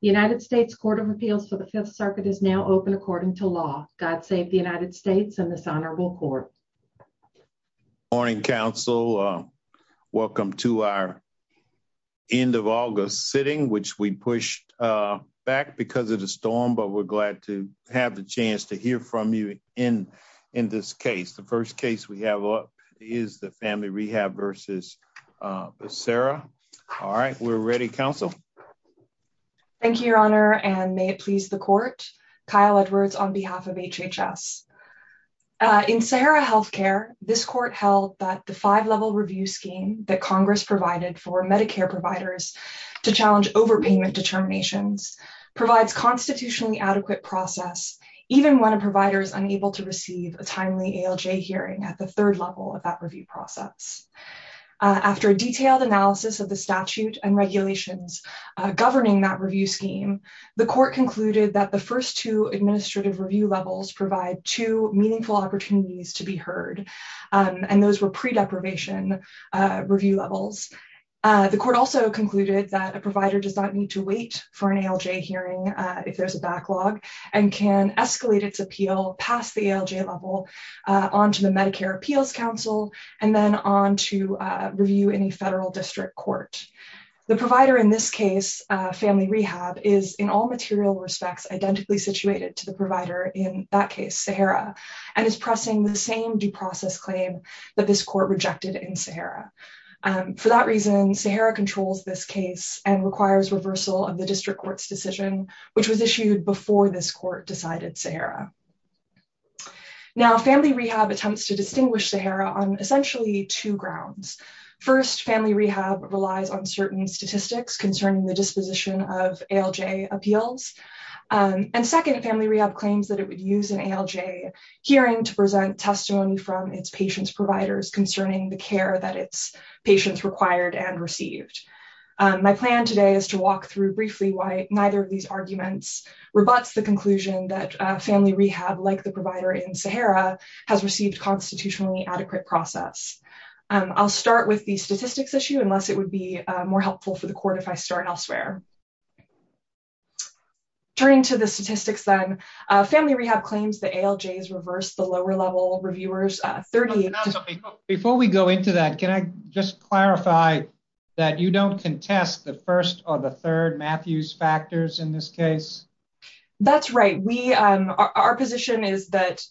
The United States Court of Appeals for the Fifth Circuit is now open according to law. God save the United States and this honorable court. Morning, counsel. Welcome to our end of August sitting, which we pushed back because of the storm, but we're glad to have the chance to hear from you in this case. The first case we have up is the Family Rehab v. Becerra. All right, we're ready, counsel. Thank you, Your Honor, and may it please the court. Kyle Edwards on behalf of HHS. In Sahara Healthcare, this court held that the five-level review scheme that Congress provided for Medicare providers to challenge overpayment determinations provides constitutionally adequate process even when a provider is unable to receive a timely ALJ hearing at the third level of that governing that review scheme. The court concluded that the first two administrative review levels provide two meaningful opportunities to be heard, and those were pre-deprivation review levels. The court also concluded that a provider does not need to wait for an ALJ hearing if there's a backlog and can escalate its appeal past the ALJ level onto the Medicare Appeals Council and then on to review in a federal district court. The provider in this case, Family Rehab, is in all material respects identically situated to the provider in that case, Sahara, and is pressing the same due process claim that this court rejected in Sahara. For that reason, Sahara controls this case and requires reversal of the district court's decision, which was issued before this court decided Sahara. Now, Family Rehab attempts to distinguish Sahara on essentially two grounds. First, Family Rehab relies on certain statistics concerning the disposition of ALJ appeals, and second, Family Rehab claims that it would use an ALJ hearing to present testimony from its patients' providers concerning the care that its patients required and received. My plan today is to walk through briefly why neither of these arguments rebuts the conclusion that Family Rehab, like the provider in Sahara, has received constitutionally adequate process. I'll start with the statistics issue, unless it would be more helpful for the court if I start elsewhere. Turning to the statistics, then, Family Rehab claims that ALJs reverse the lower-level reviewers' 30... Before we go into that, can I just clarify that you don't contest the first or the third Matthews factors in this case? That's right. Our position is that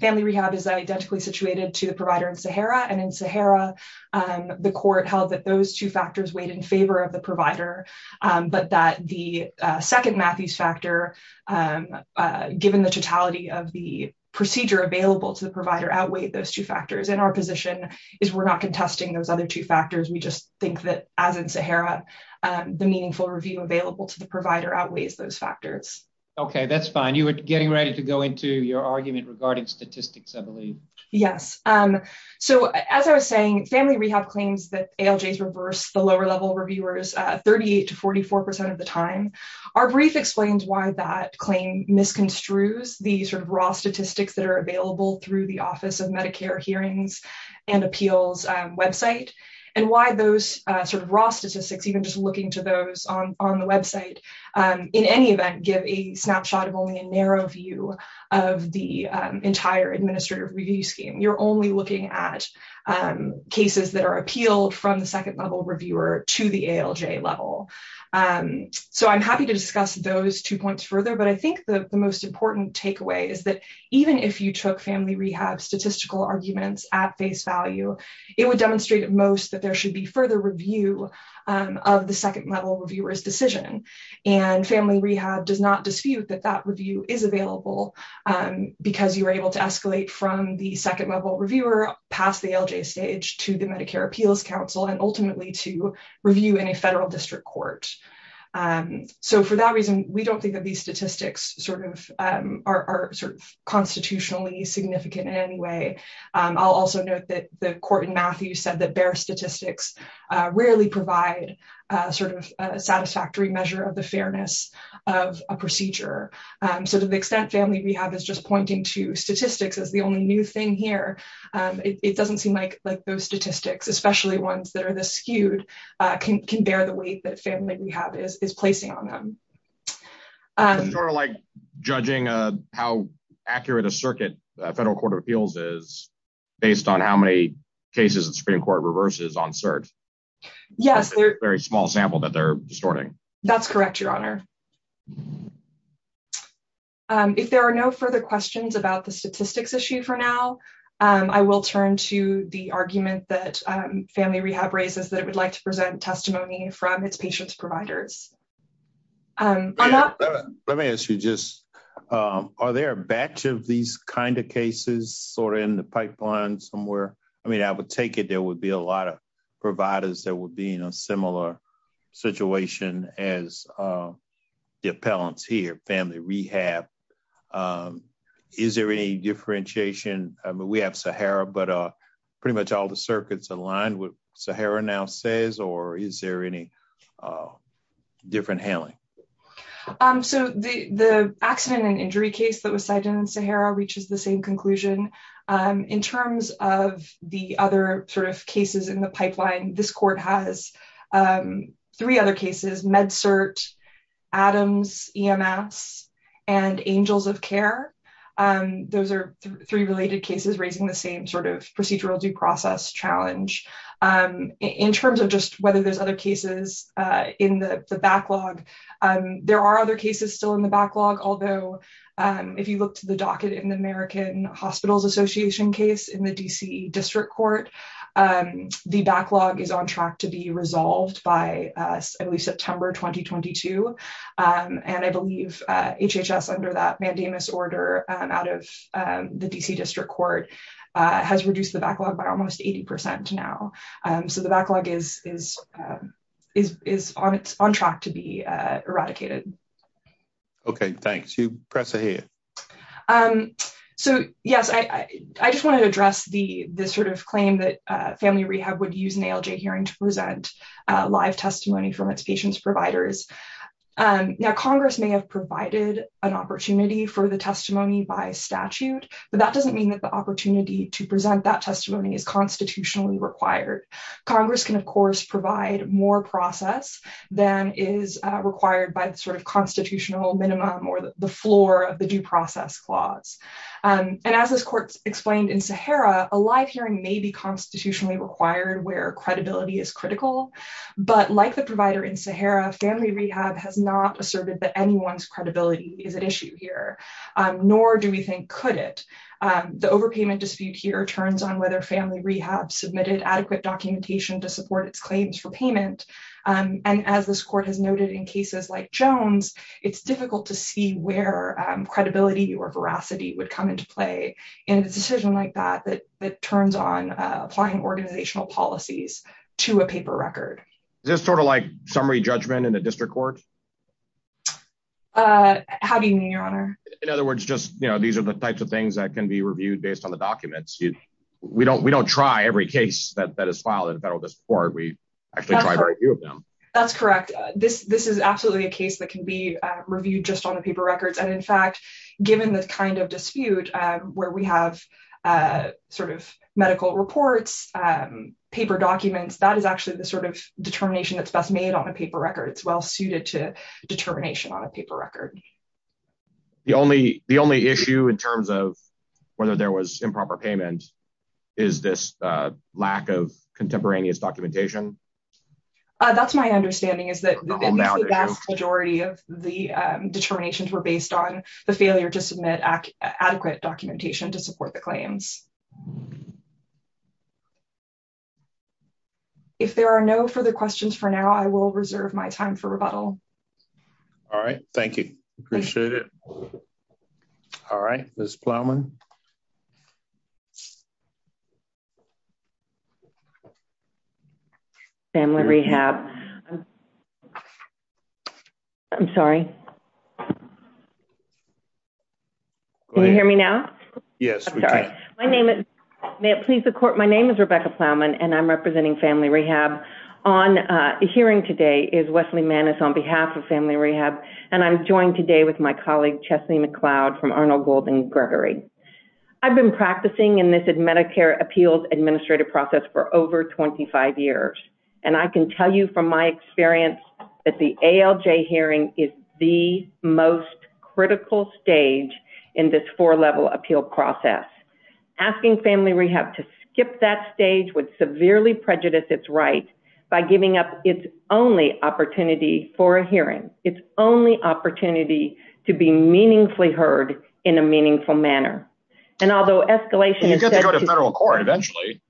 Family Rehab is identically situated to the provider in Sahara, and in Sahara, the court held that those two factors weighed in favor of the provider, but that the second Matthews factor, given the totality of the review, outweighed those two factors. Our position is we're not contesting those other two factors. We just think that, as in Sahara, the meaningful review available to the provider outweighs those factors. Okay, that's fine. You were getting ready to go into your argument regarding statistics, I believe. Yes. As I was saying, Family Rehab claims that ALJs reverse the lower-level reviewers' 38 to 44 percent of the time. Our brief explains why that claim misconstrues the raw statistics that are available through the Office of Medicare Hearings and Appeals website, and why those sort of raw statistics, even just looking to those on the website, in any event give a snapshot of only a narrow view of the entire administrative review scheme. You're only looking at cases that are appealed from the second-level reviewer to the ALJ level. I'm happy to discuss those two points further, but I think the most important takeaway is that even if you took Family Rehab's statistical arguments at face value, it would demonstrate at most that there should be further review of the second-level reviewer's decision. Family Rehab does not dispute that that review is available because you were able to escalate from the second-level reviewer, past the ALJ stage, to the Medicare Appeals Council, and ultimately to review in a federal district court. So for that reason, we don't think that these statistics are sort of constitutionally significant in any way. I'll also note that the court in Matthews said that bare statistics rarely provide a satisfactory measure of the fairness of a procedure. So to the extent Family Rehab is just pointing to statistics as the only new thing here, it doesn't seem like those statistics, especially ones that are this skewed, can bear the weight that Family Rehab is placing on them. It's sort of like judging how accurate a circuit a federal court of appeals is based on how many cases the Supreme Court reverses on cert. Yes. It's a very small sample that they're distorting. That's correct, Your Honor. If there are no further questions about the statistics issue for now, I will turn to the argument that Family Rehab raises that it would like to present testimony from its patients' providers. Let me ask you just, are there a batch of these kind of cases sort of in the pipeline somewhere? I mean, I would take it there would be a lot of providers that would be in a similar situation as the appellants here, Family Rehab. Is there any differentiation? I mean, we have Sahara, but pretty much all the circuits align with Sahara now says, or is there any different handling? So the accident and injury case that was cited in Sahara reaches the same conclusion. In terms of the other sort of cases in the Angels of Care, those are three related cases raising the same sort of procedural due process challenge. In terms of just whether there's other cases in the backlog, there are other cases still in the backlog. Although, if you look to the docket in the American Hospitals Association case in the D.C. District Court, the backlog is on track to be resolved by September 2022. And I believe HHS under that mandamus order out of the D.C. District Court has reduced the backlog by almost 80% now. So the backlog is on track to be eradicated. Okay, thanks. You press ahead. So yes, I just wanted to address the sort of claim that Family from its patients providers. Now, Congress may have provided an opportunity for the testimony by statute, but that doesn't mean that the opportunity to present that testimony is constitutionally required. Congress can, of course, provide more process than is required by the sort of constitutional minimum or the floor of the due process clause. And as this court explained in Sahara, a live hearing may be constitutionally required where credibility is critical. But like the provider in Sahara, Family Rehab has not asserted that anyone's credibility is at issue here, nor do we think could it. The overpayment dispute here turns on whether Family Rehab submitted adequate documentation to support its claims for payment. And as this court has noted in cases like Jones, it's difficult to see where credibility or veracity would come into play in a decision like that, that turns on applying organizational policies to a paper record. Is this sort of like summary judgment in the district court? How do you mean, your honor? In other words, just, you know, these are the types of things that can be reviewed based on the documents. We don't, we don't try every case that is filed at a federal court, we actually try to review of them. That's correct. This, this is absolutely a case that can be reviewed just on a paper records. And in fact, given this kind of dispute, where we have sort of medical reports, paper documents, that is actually the sort of determination that's best made on a paper record. It's well suited to determination on a paper record. The only, the only issue in terms of whether there was improper payment, is this lack of contemporaneous documentation? That's my understanding is that the vast majority of the determinations were based on the failure to submit adequate documentation to support the claims. If there are no further questions for now, I will reserve my time for rebuttal. All right. Thank you. Appreciate it. All right, Ms. Plowman. Family Rehab. I'm sorry. Can you hear me now? Yes. My name is, may it please the court. My name is Rebecca Plowman and I'm representing Family Rehab. On hearing today is Wesley Mannes on behalf of Family Rehab. And I'm joined today with my I've been practicing in this Medicare appeals administrative process for over 25 years. And I can tell you from my experience that the ALJ hearing is the most critical stage in this four level appeal process. Asking Family Rehab to skip that stage would severely prejudice its right by giving up its only opportunity for a hearing. Its only opportunity to be meaningfully heard in a meaningful manner. And although escalation is good to go to federal court eventually.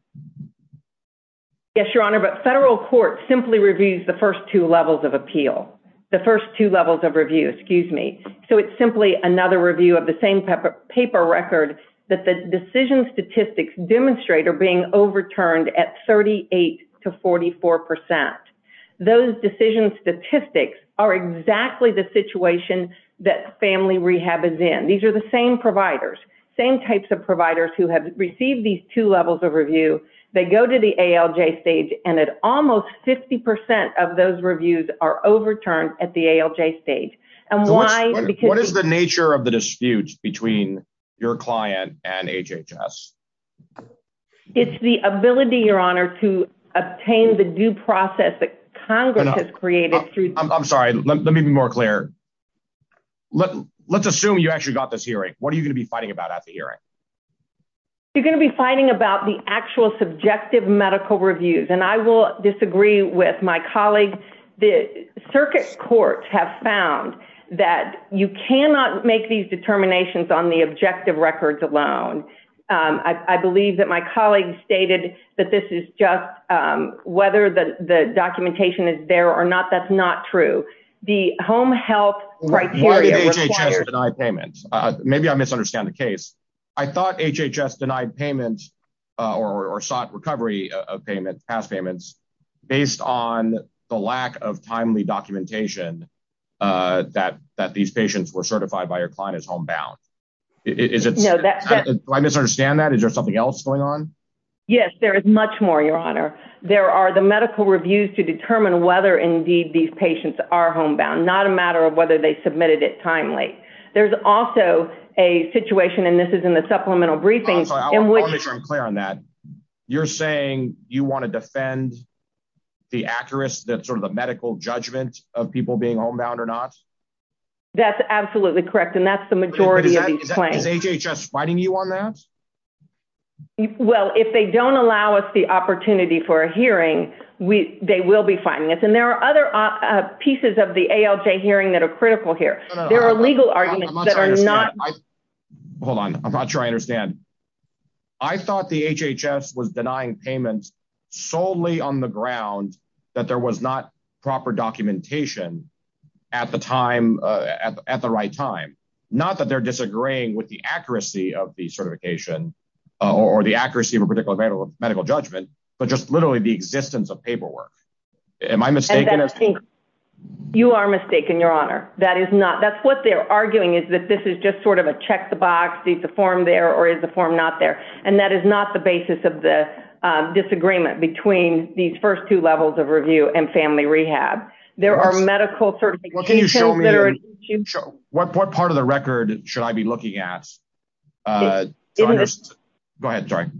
Yes, your honor, but federal court simply reviews the first two levels of appeal. The first two levels of review, excuse me. So it's simply another review of the same paper record that the decision statistics demonstrate are being overturned at 38 to 44%. Those decisions statistics are exactly the situation that Family Rehab is in. These are the same providers, same types of providers who have received these two levels of review. They go to the ALJ stage and at almost 50% of those reviews are overturned at the ALJ stage. And why? What is the nature of the dispute between your client and HHS? It's the ability, your honor, to obtain the due process that Congress has created through... I'm sorry, let me be more clear. Let's assume you actually got this hearing. What are you going to be fighting about at the hearing? You're going to be fighting about the actual subjective medical reviews. And I will disagree with my colleague. The circuit courts have found that you cannot make these determinations on the objective records alone. I believe that my colleague stated that this is just whether the documentation is there or not, that's not true. The home health criteria... Why did HHS deny payments? Maybe I misunderstand the case. I thought HHS denied payments or sought recovery of payments, past payments, based on the lack of timely documentation that these patients were certified by your client as homebound. Do I misunderstand that? Is there something else going on? Yes, there is much more, your honor. There are the medical reviews to determine whether indeed these patients are homebound, not a matter of whether they submitted it timely. There's also a situation, and this is in the supplemental briefing... You want to defend the medical judgment of people being homebound or not? That's absolutely correct. And that's the majority of these claims. Is HHS fighting you on that? Well, if they don't allow us the opportunity for a hearing, they will be fighting us. And there are other pieces of the ALJ hearing that are critical here. There are legal arguments that are not... Solely on the ground that there was not proper documentation at the right time. Not that they're disagreeing with the accuracy of the certification or the accuracy of a particular medical judgment, but just literally the existence of paperwork. Am I mistaken? You are mistaken, your honor. That is not... That's what they're arguing is that this is just sort of a check the box. Is the form there or is the form not there? And that is not the agreement between these first two levels of review and family rehab. There are medical certifications that are... What part of the record should I be looking at? Go ahead, sorry.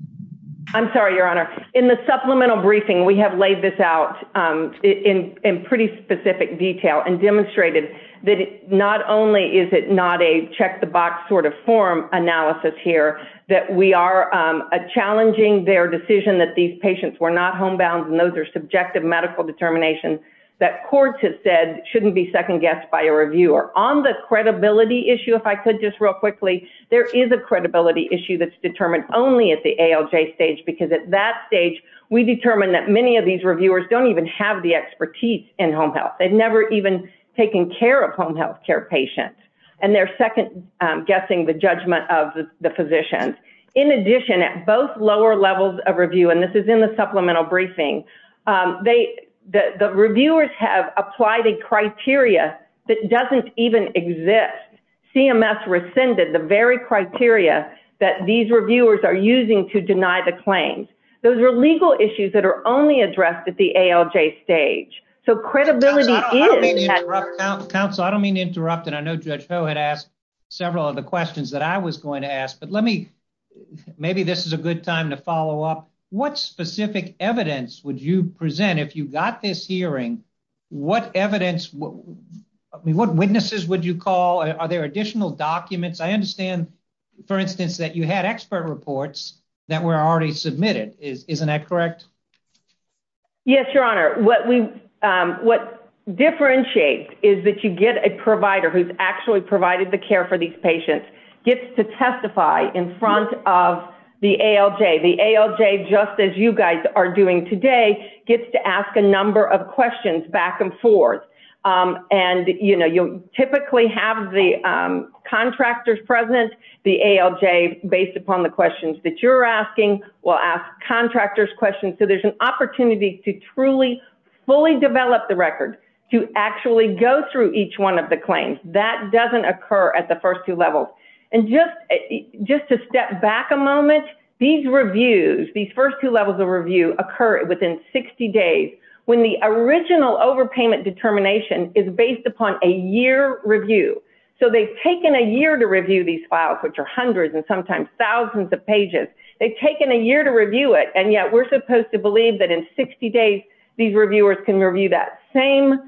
I'm sorry, your honor. In the supplemental briefing, we have laid this out in pretty specific detail and demonstrated that not only is it not a check the box sort of form analysis here, that we are challenging their decision that these patients were not homebound and those are subjective medical determinations that courts have said shouldn't be second guessed by a reviewer. On the credibility issue, if I could just real quickly, there is a credibility issue that's determined only at the ALJ stage, because at that stage, we determined that many of these reviewers don't even have the expertise in home health. They've never even taken care of home health care patients. And they're second the judgment of the physicians. In addition, at both lower levels of review, and this is in the supplemental briefing, the reviewers have applied a criteria that doesn't even exist. CMS rescinded the very criteria that these reviewers are using to deny the claims. Those are legal issues that are only addressed at the ALJ stage. So credibility is... Counsel, I don't mean to interrupt, and I know Judge Ho had asked several of the questions that I was going to ask, but let me, maybe this is a good time to follow up. What specific evidence would you present if you got this hearing? What evidence, what witnesses would you call? Are there additional documents? I understand, for instance, that you had expert reports that were already available, and that you get a provider who's actually provided the care for these patients, gets to testify in front of the ALJ. The ALJ, just as you guys are doing today, gets to ask a number of questions back and forth. And, you know, you'll typically have the contractors present. The ALJ, based upon the questions that you're asking, will ask contractors questions. So there's an opportunity for the record to actually go through each one of the claims. That doesn't occur at the first two levels. And just to step back a moment, these reviews, these first two levels of review occur within 60 days, when the original overpayment determination is based upon a year review. So they've taken a year to review these files, which are hundreds and sometimes thousands of pages. They've taken a year to review it, and yet we're supposed to believe that in 60 days, these are the same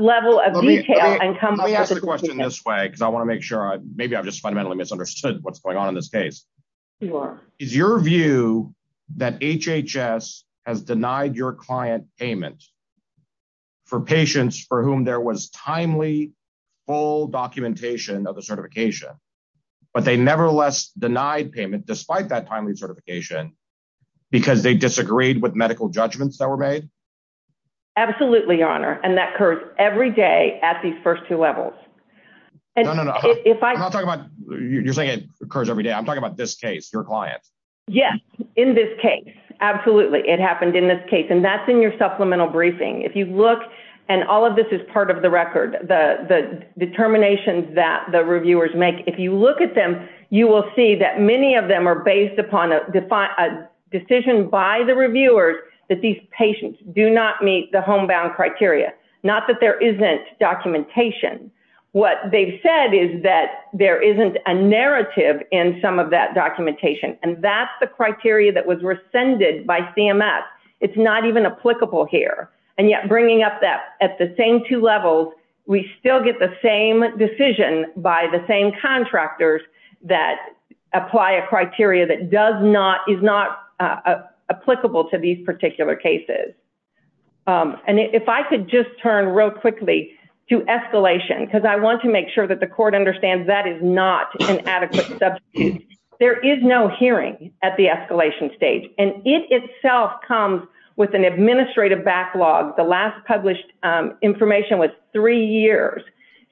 level of detail. Let me ask the question this way, because I want to make sure, maybe I've just fundamentally misunderstood what's going on in this case. Is your view that HHS has denied your client payment for patients for whom there was timely, full documentation of the certification, but they nevertheless denied payment despite that timely certification, because they disagreed with medical judgments that were made? Absolutely, your honor. And that occurs every day at these first two levels. No, no, no. You're saying it occurs every day. I'm talking about this case, your client. Yes, in this case. Absolutely. It happened in this case. And that's in your supplemental briefing. If you look, and all of this is part of the record, the determinations that the reviewers make, if you look at them, you will see that many of them are based upon a decision by the reviewers that these patients do not meet the homebound criteria. Not that there isn't documentation. What they've said is that there isn't a narrative in some of that documentation, and that's the criteria that was rescinded by CMS. It's not even applicable here. And yet, bringing up that at the same two levels, we still get the same decision by the same contractors that apply a criteria that is not applicable to these particular cases. And if I could just turn real quickly to escalation, because I want to make sure that the court understands that is not an adequate substitute. There is no hearing at the escalation stage. And it itself comes with an administrative backlog. The last published information was three years.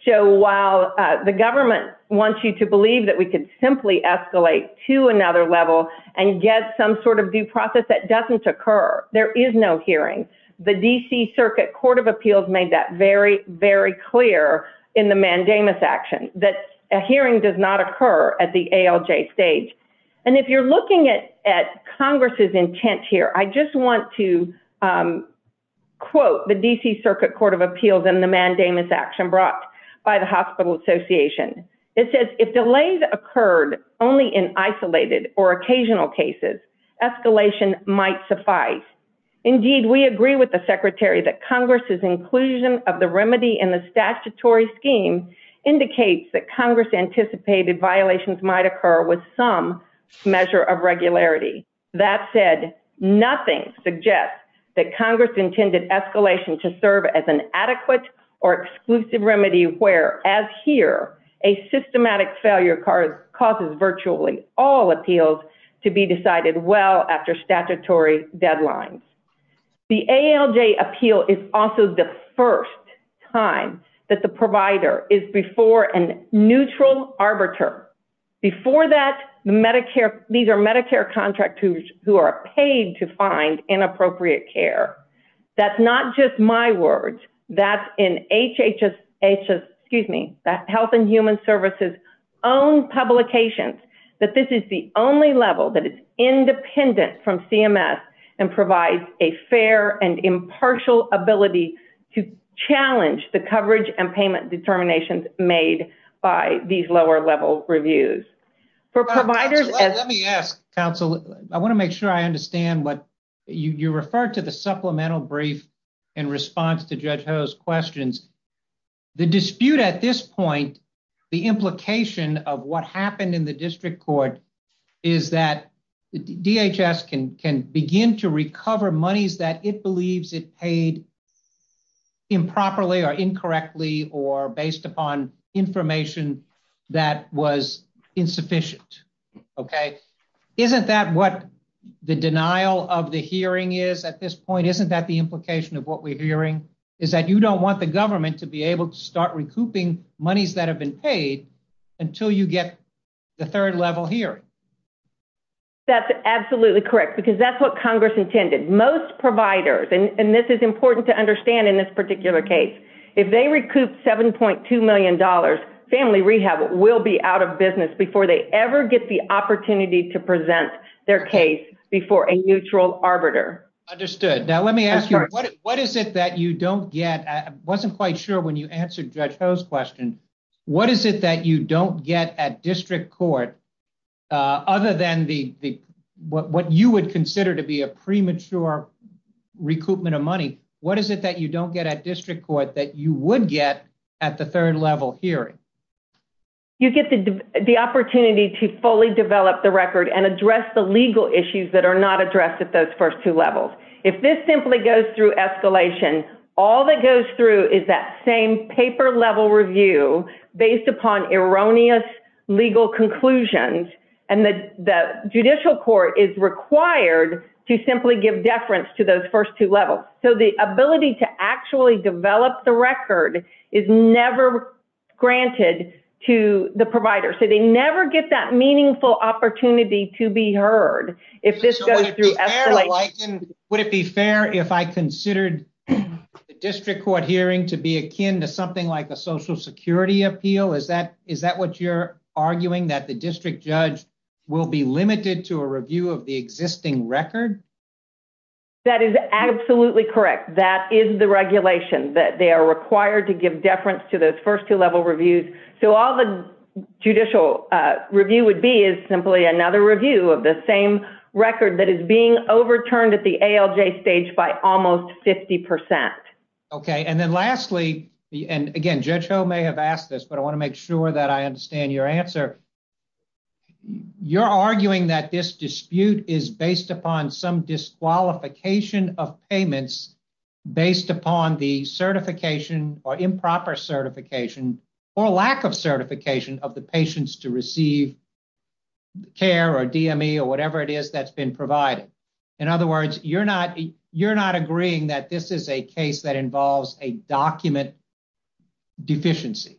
So while the government wants you to believe that we could simply escalate to another level and get some sort of due process, that doesn't occur. There is no hearing. The D.C. Circuit Court of Appeals made that very, very clear in the mandamus action, that a hearing does not occur at the ALJ stage. And if you're looking at Congress's intent here, I just want to quote the D.C. Circuit Court of Appeals in the mandamus action brought by the Hospital Association. It says, if delays occurred only in isolated or occasional cases, escalation might suffice. Indeed, we agree with the Secretary that Congress's inclusion of the remedy in the statutory scheme indicates that Congress anticipated violations might occur with some measure of regularity. That said, nothing suggests that Congress intended escalation to serve as an adequate or exclusive remedy where, as here, a systematic failure causes virtually all appeals to be decided well after statutory deadlines. The ALJ appeal is also the first time that the provider is before a neutral arbiter. Before that, these are Medicare contractors who are paid to find inappropriate care. That's not just my words. That's in HHS, excuse me, Health and Human Services' own publications, that this is the only level that is independent from CMS and provides a fair and impartial ability to challenge the coverage and payment determinations made by these lower-level reviews. For providers... Let me ask, counsel, I want to make sure I understand what you referred to the supplemental brief in response to Judge Ho's questions. The dispute at this point, the implication of what happened in the district court, is that DHS can begin to recover monies that it believes it paid improperly or incorrectly or based upon information that was insufficient, okay? Isn't that what the denial of the hearing is at this point? Isn't that the implication of what we're hearing, is that you don't want the government to be able to start recouping monies that have been paid until you get the third level hearing? That's absolutely correct because that's what Congress intended. Most providers, and this is important to understand in this particular case, if they recoup $7.2 million, family rehab will be out of business before they ever get the opportunity to present their case before a neutral arbiter. Understood. Now, let me ask you, what is it that you don't get? I wasn't quite sure when you answered Judge Ho's question. What is it that you don't get at district court other than what you would consider to be a premature recoupment of money? What is it that you don't get at district court that you would get at the third level hearing? You get the opportunity to fully develop the record and address the legal issues that are not addressed at those first two levels. If this simply goes through escalation, all that goes through is that same paper level review based upon erroneous legal conclusions, and the judicial court is required to simply give deference to those first two levels. The ability to actually develop the record is never granted to the provider. They never get that meaningful opportunity to be heard if this goes through escalation. Would it be fair if I considered the district court hearing to be akin to something like a social security appeal? Is that what you're arguing, that the district judge will be limited to a review of the existing record? That is absolutely correct. That is the regulation that they are required to give deference to those first two level reviews. All the judicial review would be is simply another review of the same record that is being overturned at the ALJ stage by almost 50%. Okay. And then lastly, and again, Judge Ho may have asked this, but I want to make sure that I understand your answer. You're arguing that this dispute is based upon some disqualification of payments based upon the certification or improper certification or lack of certification of the patients to receive care or DME or whatever it is that's been provided. In other words, you're not agreeing that this is a case that involves a document deficiency.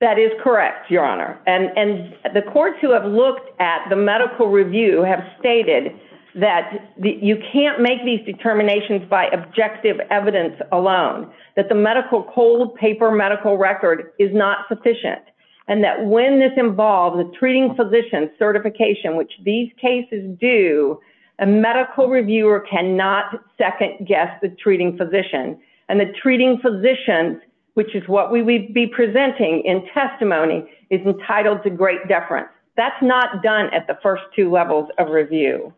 That is correct, Your Honor. And the courts who have looked at the medical review have stated that you can't make these determinations by objective evidence alone, that the medical cold paper medical record is not sufficient, and that when this involves a treating physician certification, which these cases do, a medical reviewer cannot second guess the treating physician. And the treating physician, which is what we would be presenting in testimony, is entitled to great deference. That's not done at the first two levels of review.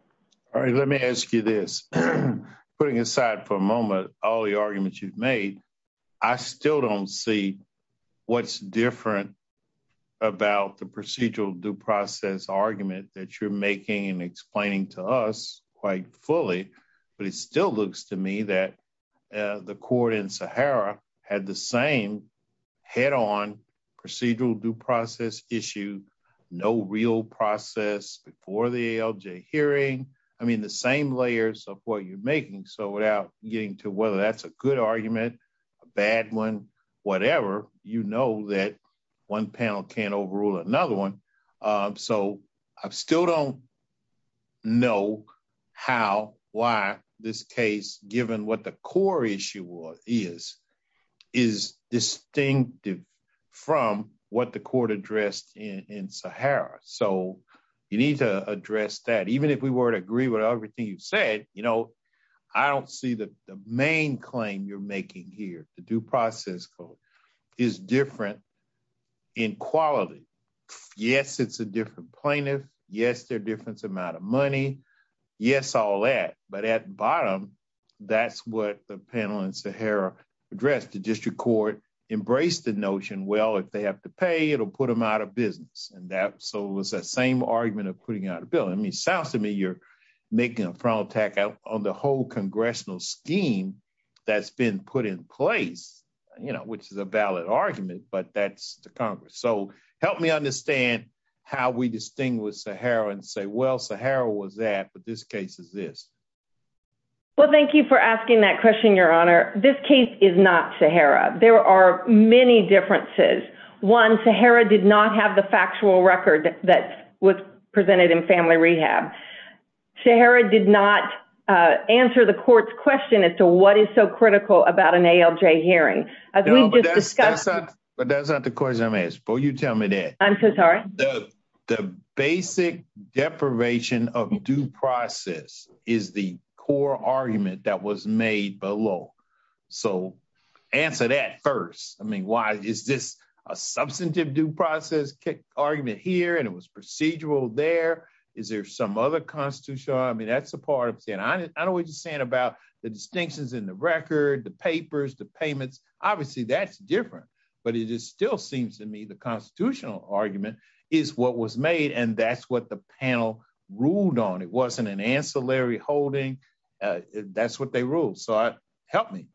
All right. Let me ask you this. Putting aside for a moment all the arguments you've made, I still don't see what's different about the procedural due process argument that you're making and explaining to us quite fully. But it still looks to me that the court in Sahara had the same head-on procedural due process issue, no real process before the ALJ hearing. I mean, the same layers of what you're making. So without getting to whether that's a good argument, bad one, whatever, you know that one panel can't overrule another one. So I still don't know how, why this case, given what the core issue is, is distinctive from what the court addressed in Sahara. So you need to address that. Even if we were to agree with everything you've said, I don't see the main claim you're making here, the due process code, is different in quality. Yes, it's a different plaintiff. Yes, they're different amount of money. Yes, all that. But at bottom, that's what the panel in Sahara addressed. The district court embraced the notion, well, if they have to pay, it'll put them out of business. And so it was that same argument of putting out a bill. I mean, it sounds to me you're making a front attack on the whole congressional scheme that's been put in place, which is a valid argument, but that's the Congress. So help me understand how we distinguish Sahara and say, well, Sahara was that, but this case is this. Well, thank you for asking that question, Your Honor. This case is not Sahara. There are many differences. One, Sahara did not have the factual record that was presented in family rehab. Sahara did not answer the court's question as to what is so critical about an ALJ hearing. But that's not the question I'm asking, but you tell me that. I'm so sorry. The basic deprivation of due process is the core argument that was made below. So answer that first. I mean, why is this a substantive due process argument here and it was procedural there? Is there some other constitutional? I mean, that's the part of saying, I don't know what you're saying about the distinctions in the record, the papers, the payments. Obviously that's different, but it just still seems to me the constitutional argument is what was made and that's what the court ruled on. It wasn't an ancillary holding. That's what they ruled. So help me.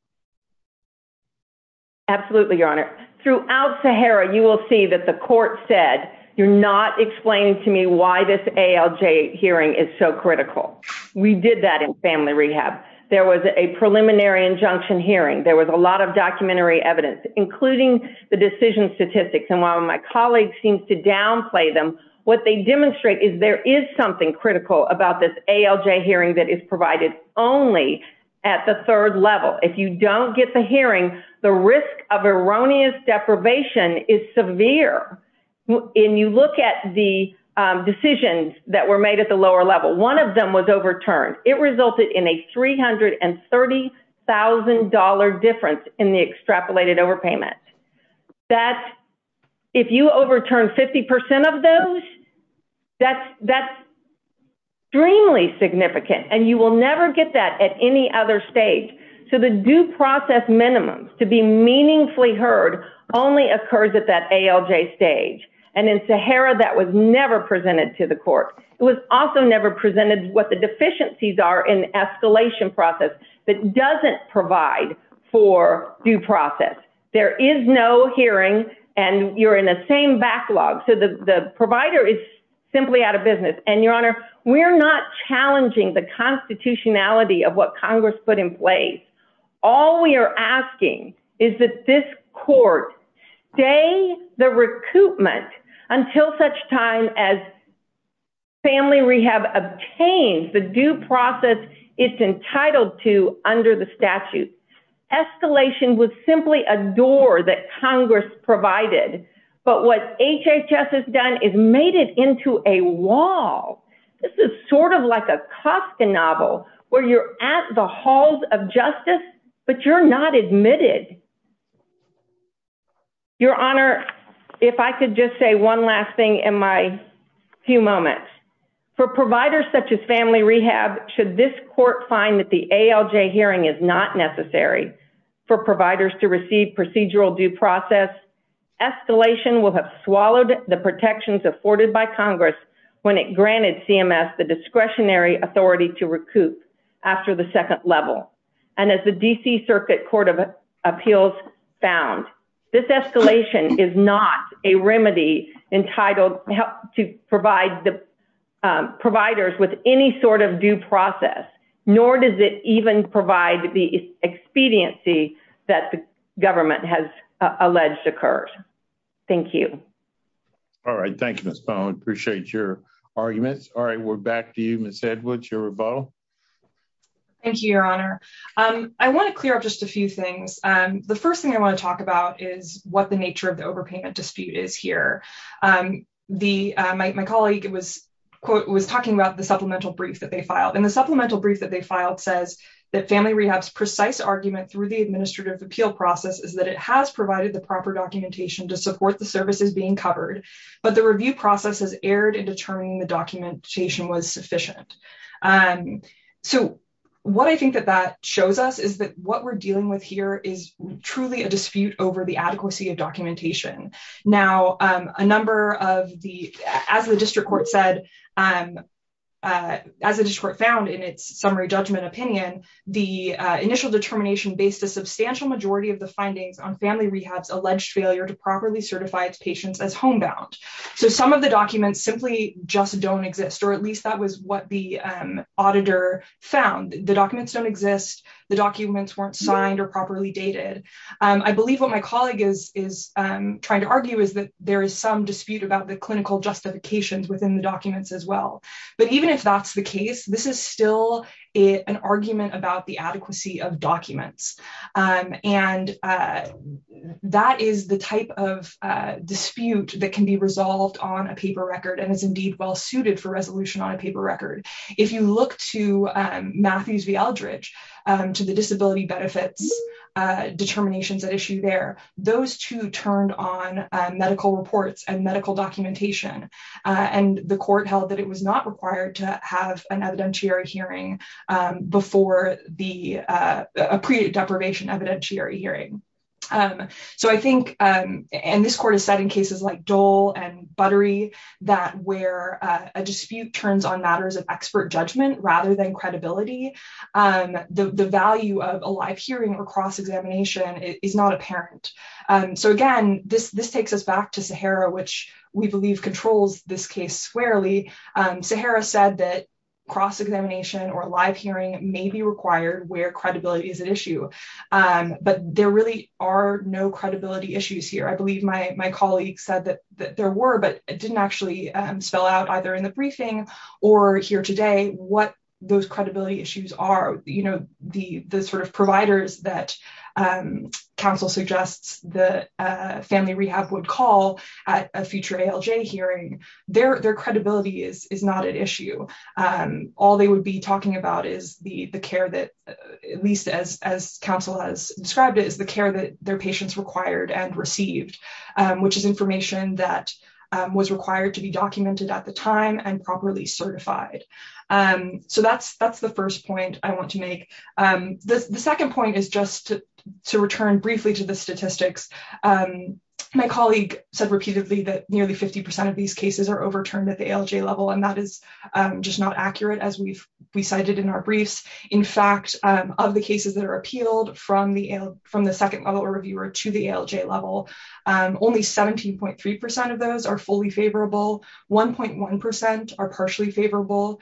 Absolutely, Your Honor. Throughout Sahara, you will see that the court said, you're not explaining to me why this ALJ hearing is so critical. We did that in family rehab. There was a preliminary injunction hearing. There was a lot of documentary evidence, including the decision statistics. And while my colleagues seem to downplay them, what they demonstrate is there is something critical about this ALJ hearing that is provided only at the third level. If you don't get the hearing, the risk of erroneous deprivation is severe. And you look at the decisions that were made at the lower level, one of them was overturned. It resulted in a $330,000 difference in the extrapolated overpayment. If you overturn 50% of those, that's extremely significant. And you will never get that at any other stage. So the due process minimums to be meaningfully heard only occurs at that ALJ stage. And in Sahara, that was never presented to the court. It was also never presented what the deficiencies are in escalation process that doesn't provide for due process. There is no hearing and you're in the same backlog. So the provider is simply out of business. And Your Honor, we're not challenging the constitutionality of what Congress put in place. All we are asking is that this court stay the recoupment until such time as family rehab obtains the due process it's entitled to under the statute. Escalation was simply a door that Congress provided. But what HHS has done is made it into a wall. This is sort of like a Kafka novel where you're at the halls of justice, but you're not admitted. Your Honor, if I could just say one last thing in my few moments. For providers such as family rehab, should this court find that the ALJ hearing is not necessary for providers to receive procedural due process, escalation will have swallowed the protections afforded by Congress when it granted CMS the discretionary authority to recoup after the second level. And as the DC Circuit Court of Appeals found, this escalation is not a remedy entitled to provide the due process, nor does it even provide the expediency that the government has alleged occurred. Thank you. All right. Thank you, Ms. Bowen. Appreciate your arguments. All right. We're back to you, Ms. Edwards, your rebuttal. Thank you, Your Honor. I want to clear up just a few things. The first thing I want to talk about is what the nature of the overpayment dispute is here. My colleague was talking about the supplemental brief that they filed. And the supplemental brief that they filed says that family rehab's precise argument through the administrative appeal process is that it has provided the proper documentation to support the services being covered, but the review process has erred in determining the documentation was sufficient. So what I think that that shows us is that what we're dealing with here is truly a dispute over the adequacy of documentation. Now, as the district court found in its summary judgment opinion, the initial determination based a substantial majority of the findings on family rehab's alleged failure to properly certify its patients as homebound. So some of the documents simply just don't exist, or at least that was what the auditor found. The documents don't exist. The documents weren't signed or properly dated. I believe what my colleague is trying to argue is that there is some dispute about the clinical justifications within the documents as well. But even if that's the case, this is still an argument about the adequacy of documents. And that is the type of dispute that can be resolved on a paper record and is indeed well on a paper record. If you look to Matthews v Aldridge, to the disability benefits determinations at issue there, those two turned on medical reports and medical documentation. And the court held that it was not required to have an evidentiary hearing before the deprivation evidentiary hearing. So I think, and this court has said in cases like Dole and turns on matters of expert judgment rather than credibility, the value of a live hearing or cross examination is not apparent. So again, this takes us back to Sahara, which we believe controls this case squarely. Sahara said that cross examination or live hearing may be required where credibility is at issue. But there really are no credibility issues here. I believe my colleague said that there were, but it didn't actually spell out either in the briefing or here today, what those credibility issues are, you know, the sort of providers that council suggests the family rehab would call at a future ALJ hearing, their credibility is not at issue. All they would be talking about is the care that, at least as council has described it, is the care that their patients required and received, which is information that was required to be documented at the time and properly certified. So that's the first point I want to make. The second point is just to return briefly to the statistics. My colleague said repeatedly that nearly 50% of these cases are overturned at the ALJ level, and that is just not accurate as we've cited in our briefs. In fact, of the cases that are appealed from the second level reviewer to the ALJ level, only 17.3% of those are fully favorable. 1.1% are partially favorable.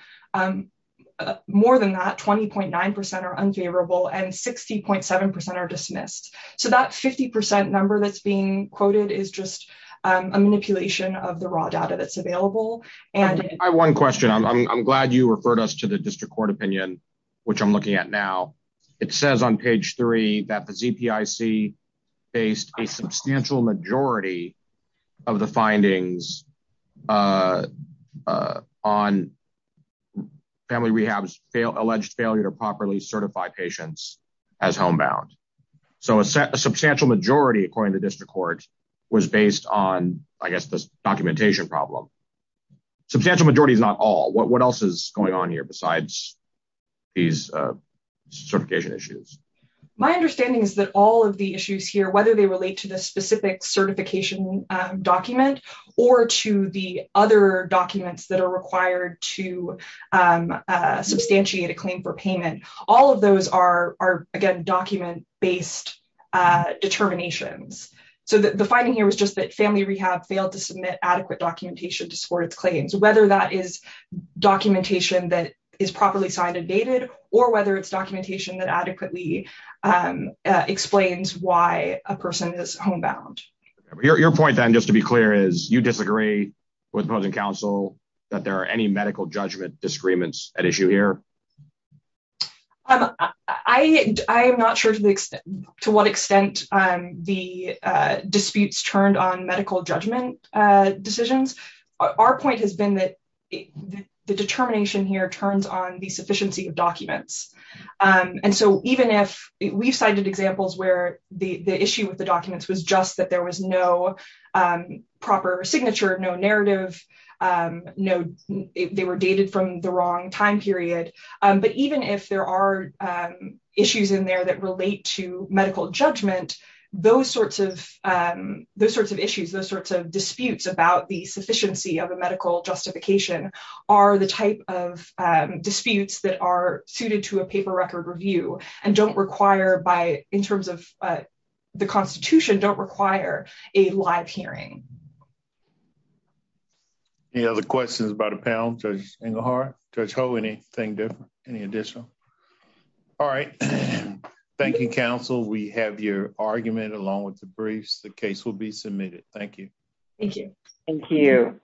More than that, 20.9% are unfavorable and 60.7% are dismissed. So that 50% number that's being quoted is just a manipulation of the raw data that's available. I have one question. I'm glad you referred us to the district court opinion, which I'm looking at now. It says on page three that the ZPIC based a substantial majority of the findings on family rehab's alleged failure to properly certify patients as homebound. So a substantial majority, according to district court, was based on, I guess, documentation problem. Substantial majority is not all. What else is going on here besides these certification issues? My understanding is that all of the issues here, whether they relate to the specific certification document or to the other documents that are required to substantiate a claim for payment, all of those are, again, document-based determinations. So the finding here was just that family rehab failed to submit adequate documentation to support its claims, whether that is documentation that is properly signed and dated or whether it's documentation that adequately explains why a person is homebound. Your point then, just to be clear, is you disagree with opposing counsel that there are any medical judgment disagreements at issue here? I am not sure to what extent the disputes turned on medical judgment decisions. Our point has been that the determination here turns on the sufficiency of documents. And so even if we've cited examples where the issue with the documents was just that there was no proper signature, no narrative, they were dated from the wrong time period, but even if there are issues in there that relate to medical judgment, those sorts of issues, those sorts of disputes about the sufficiency of a medical justification are the type of disputes that are suited to a paper record review and don't require, in terms of the Constitution, don't require a live hearing. Any other questions about a panel, Judge Engelhardt, Judge Ho? Anything different? Any additional? All right. Thank you, counsel. We have your argument along with the briefs. The case will be submitted. Thank you. Thank you. Thank you.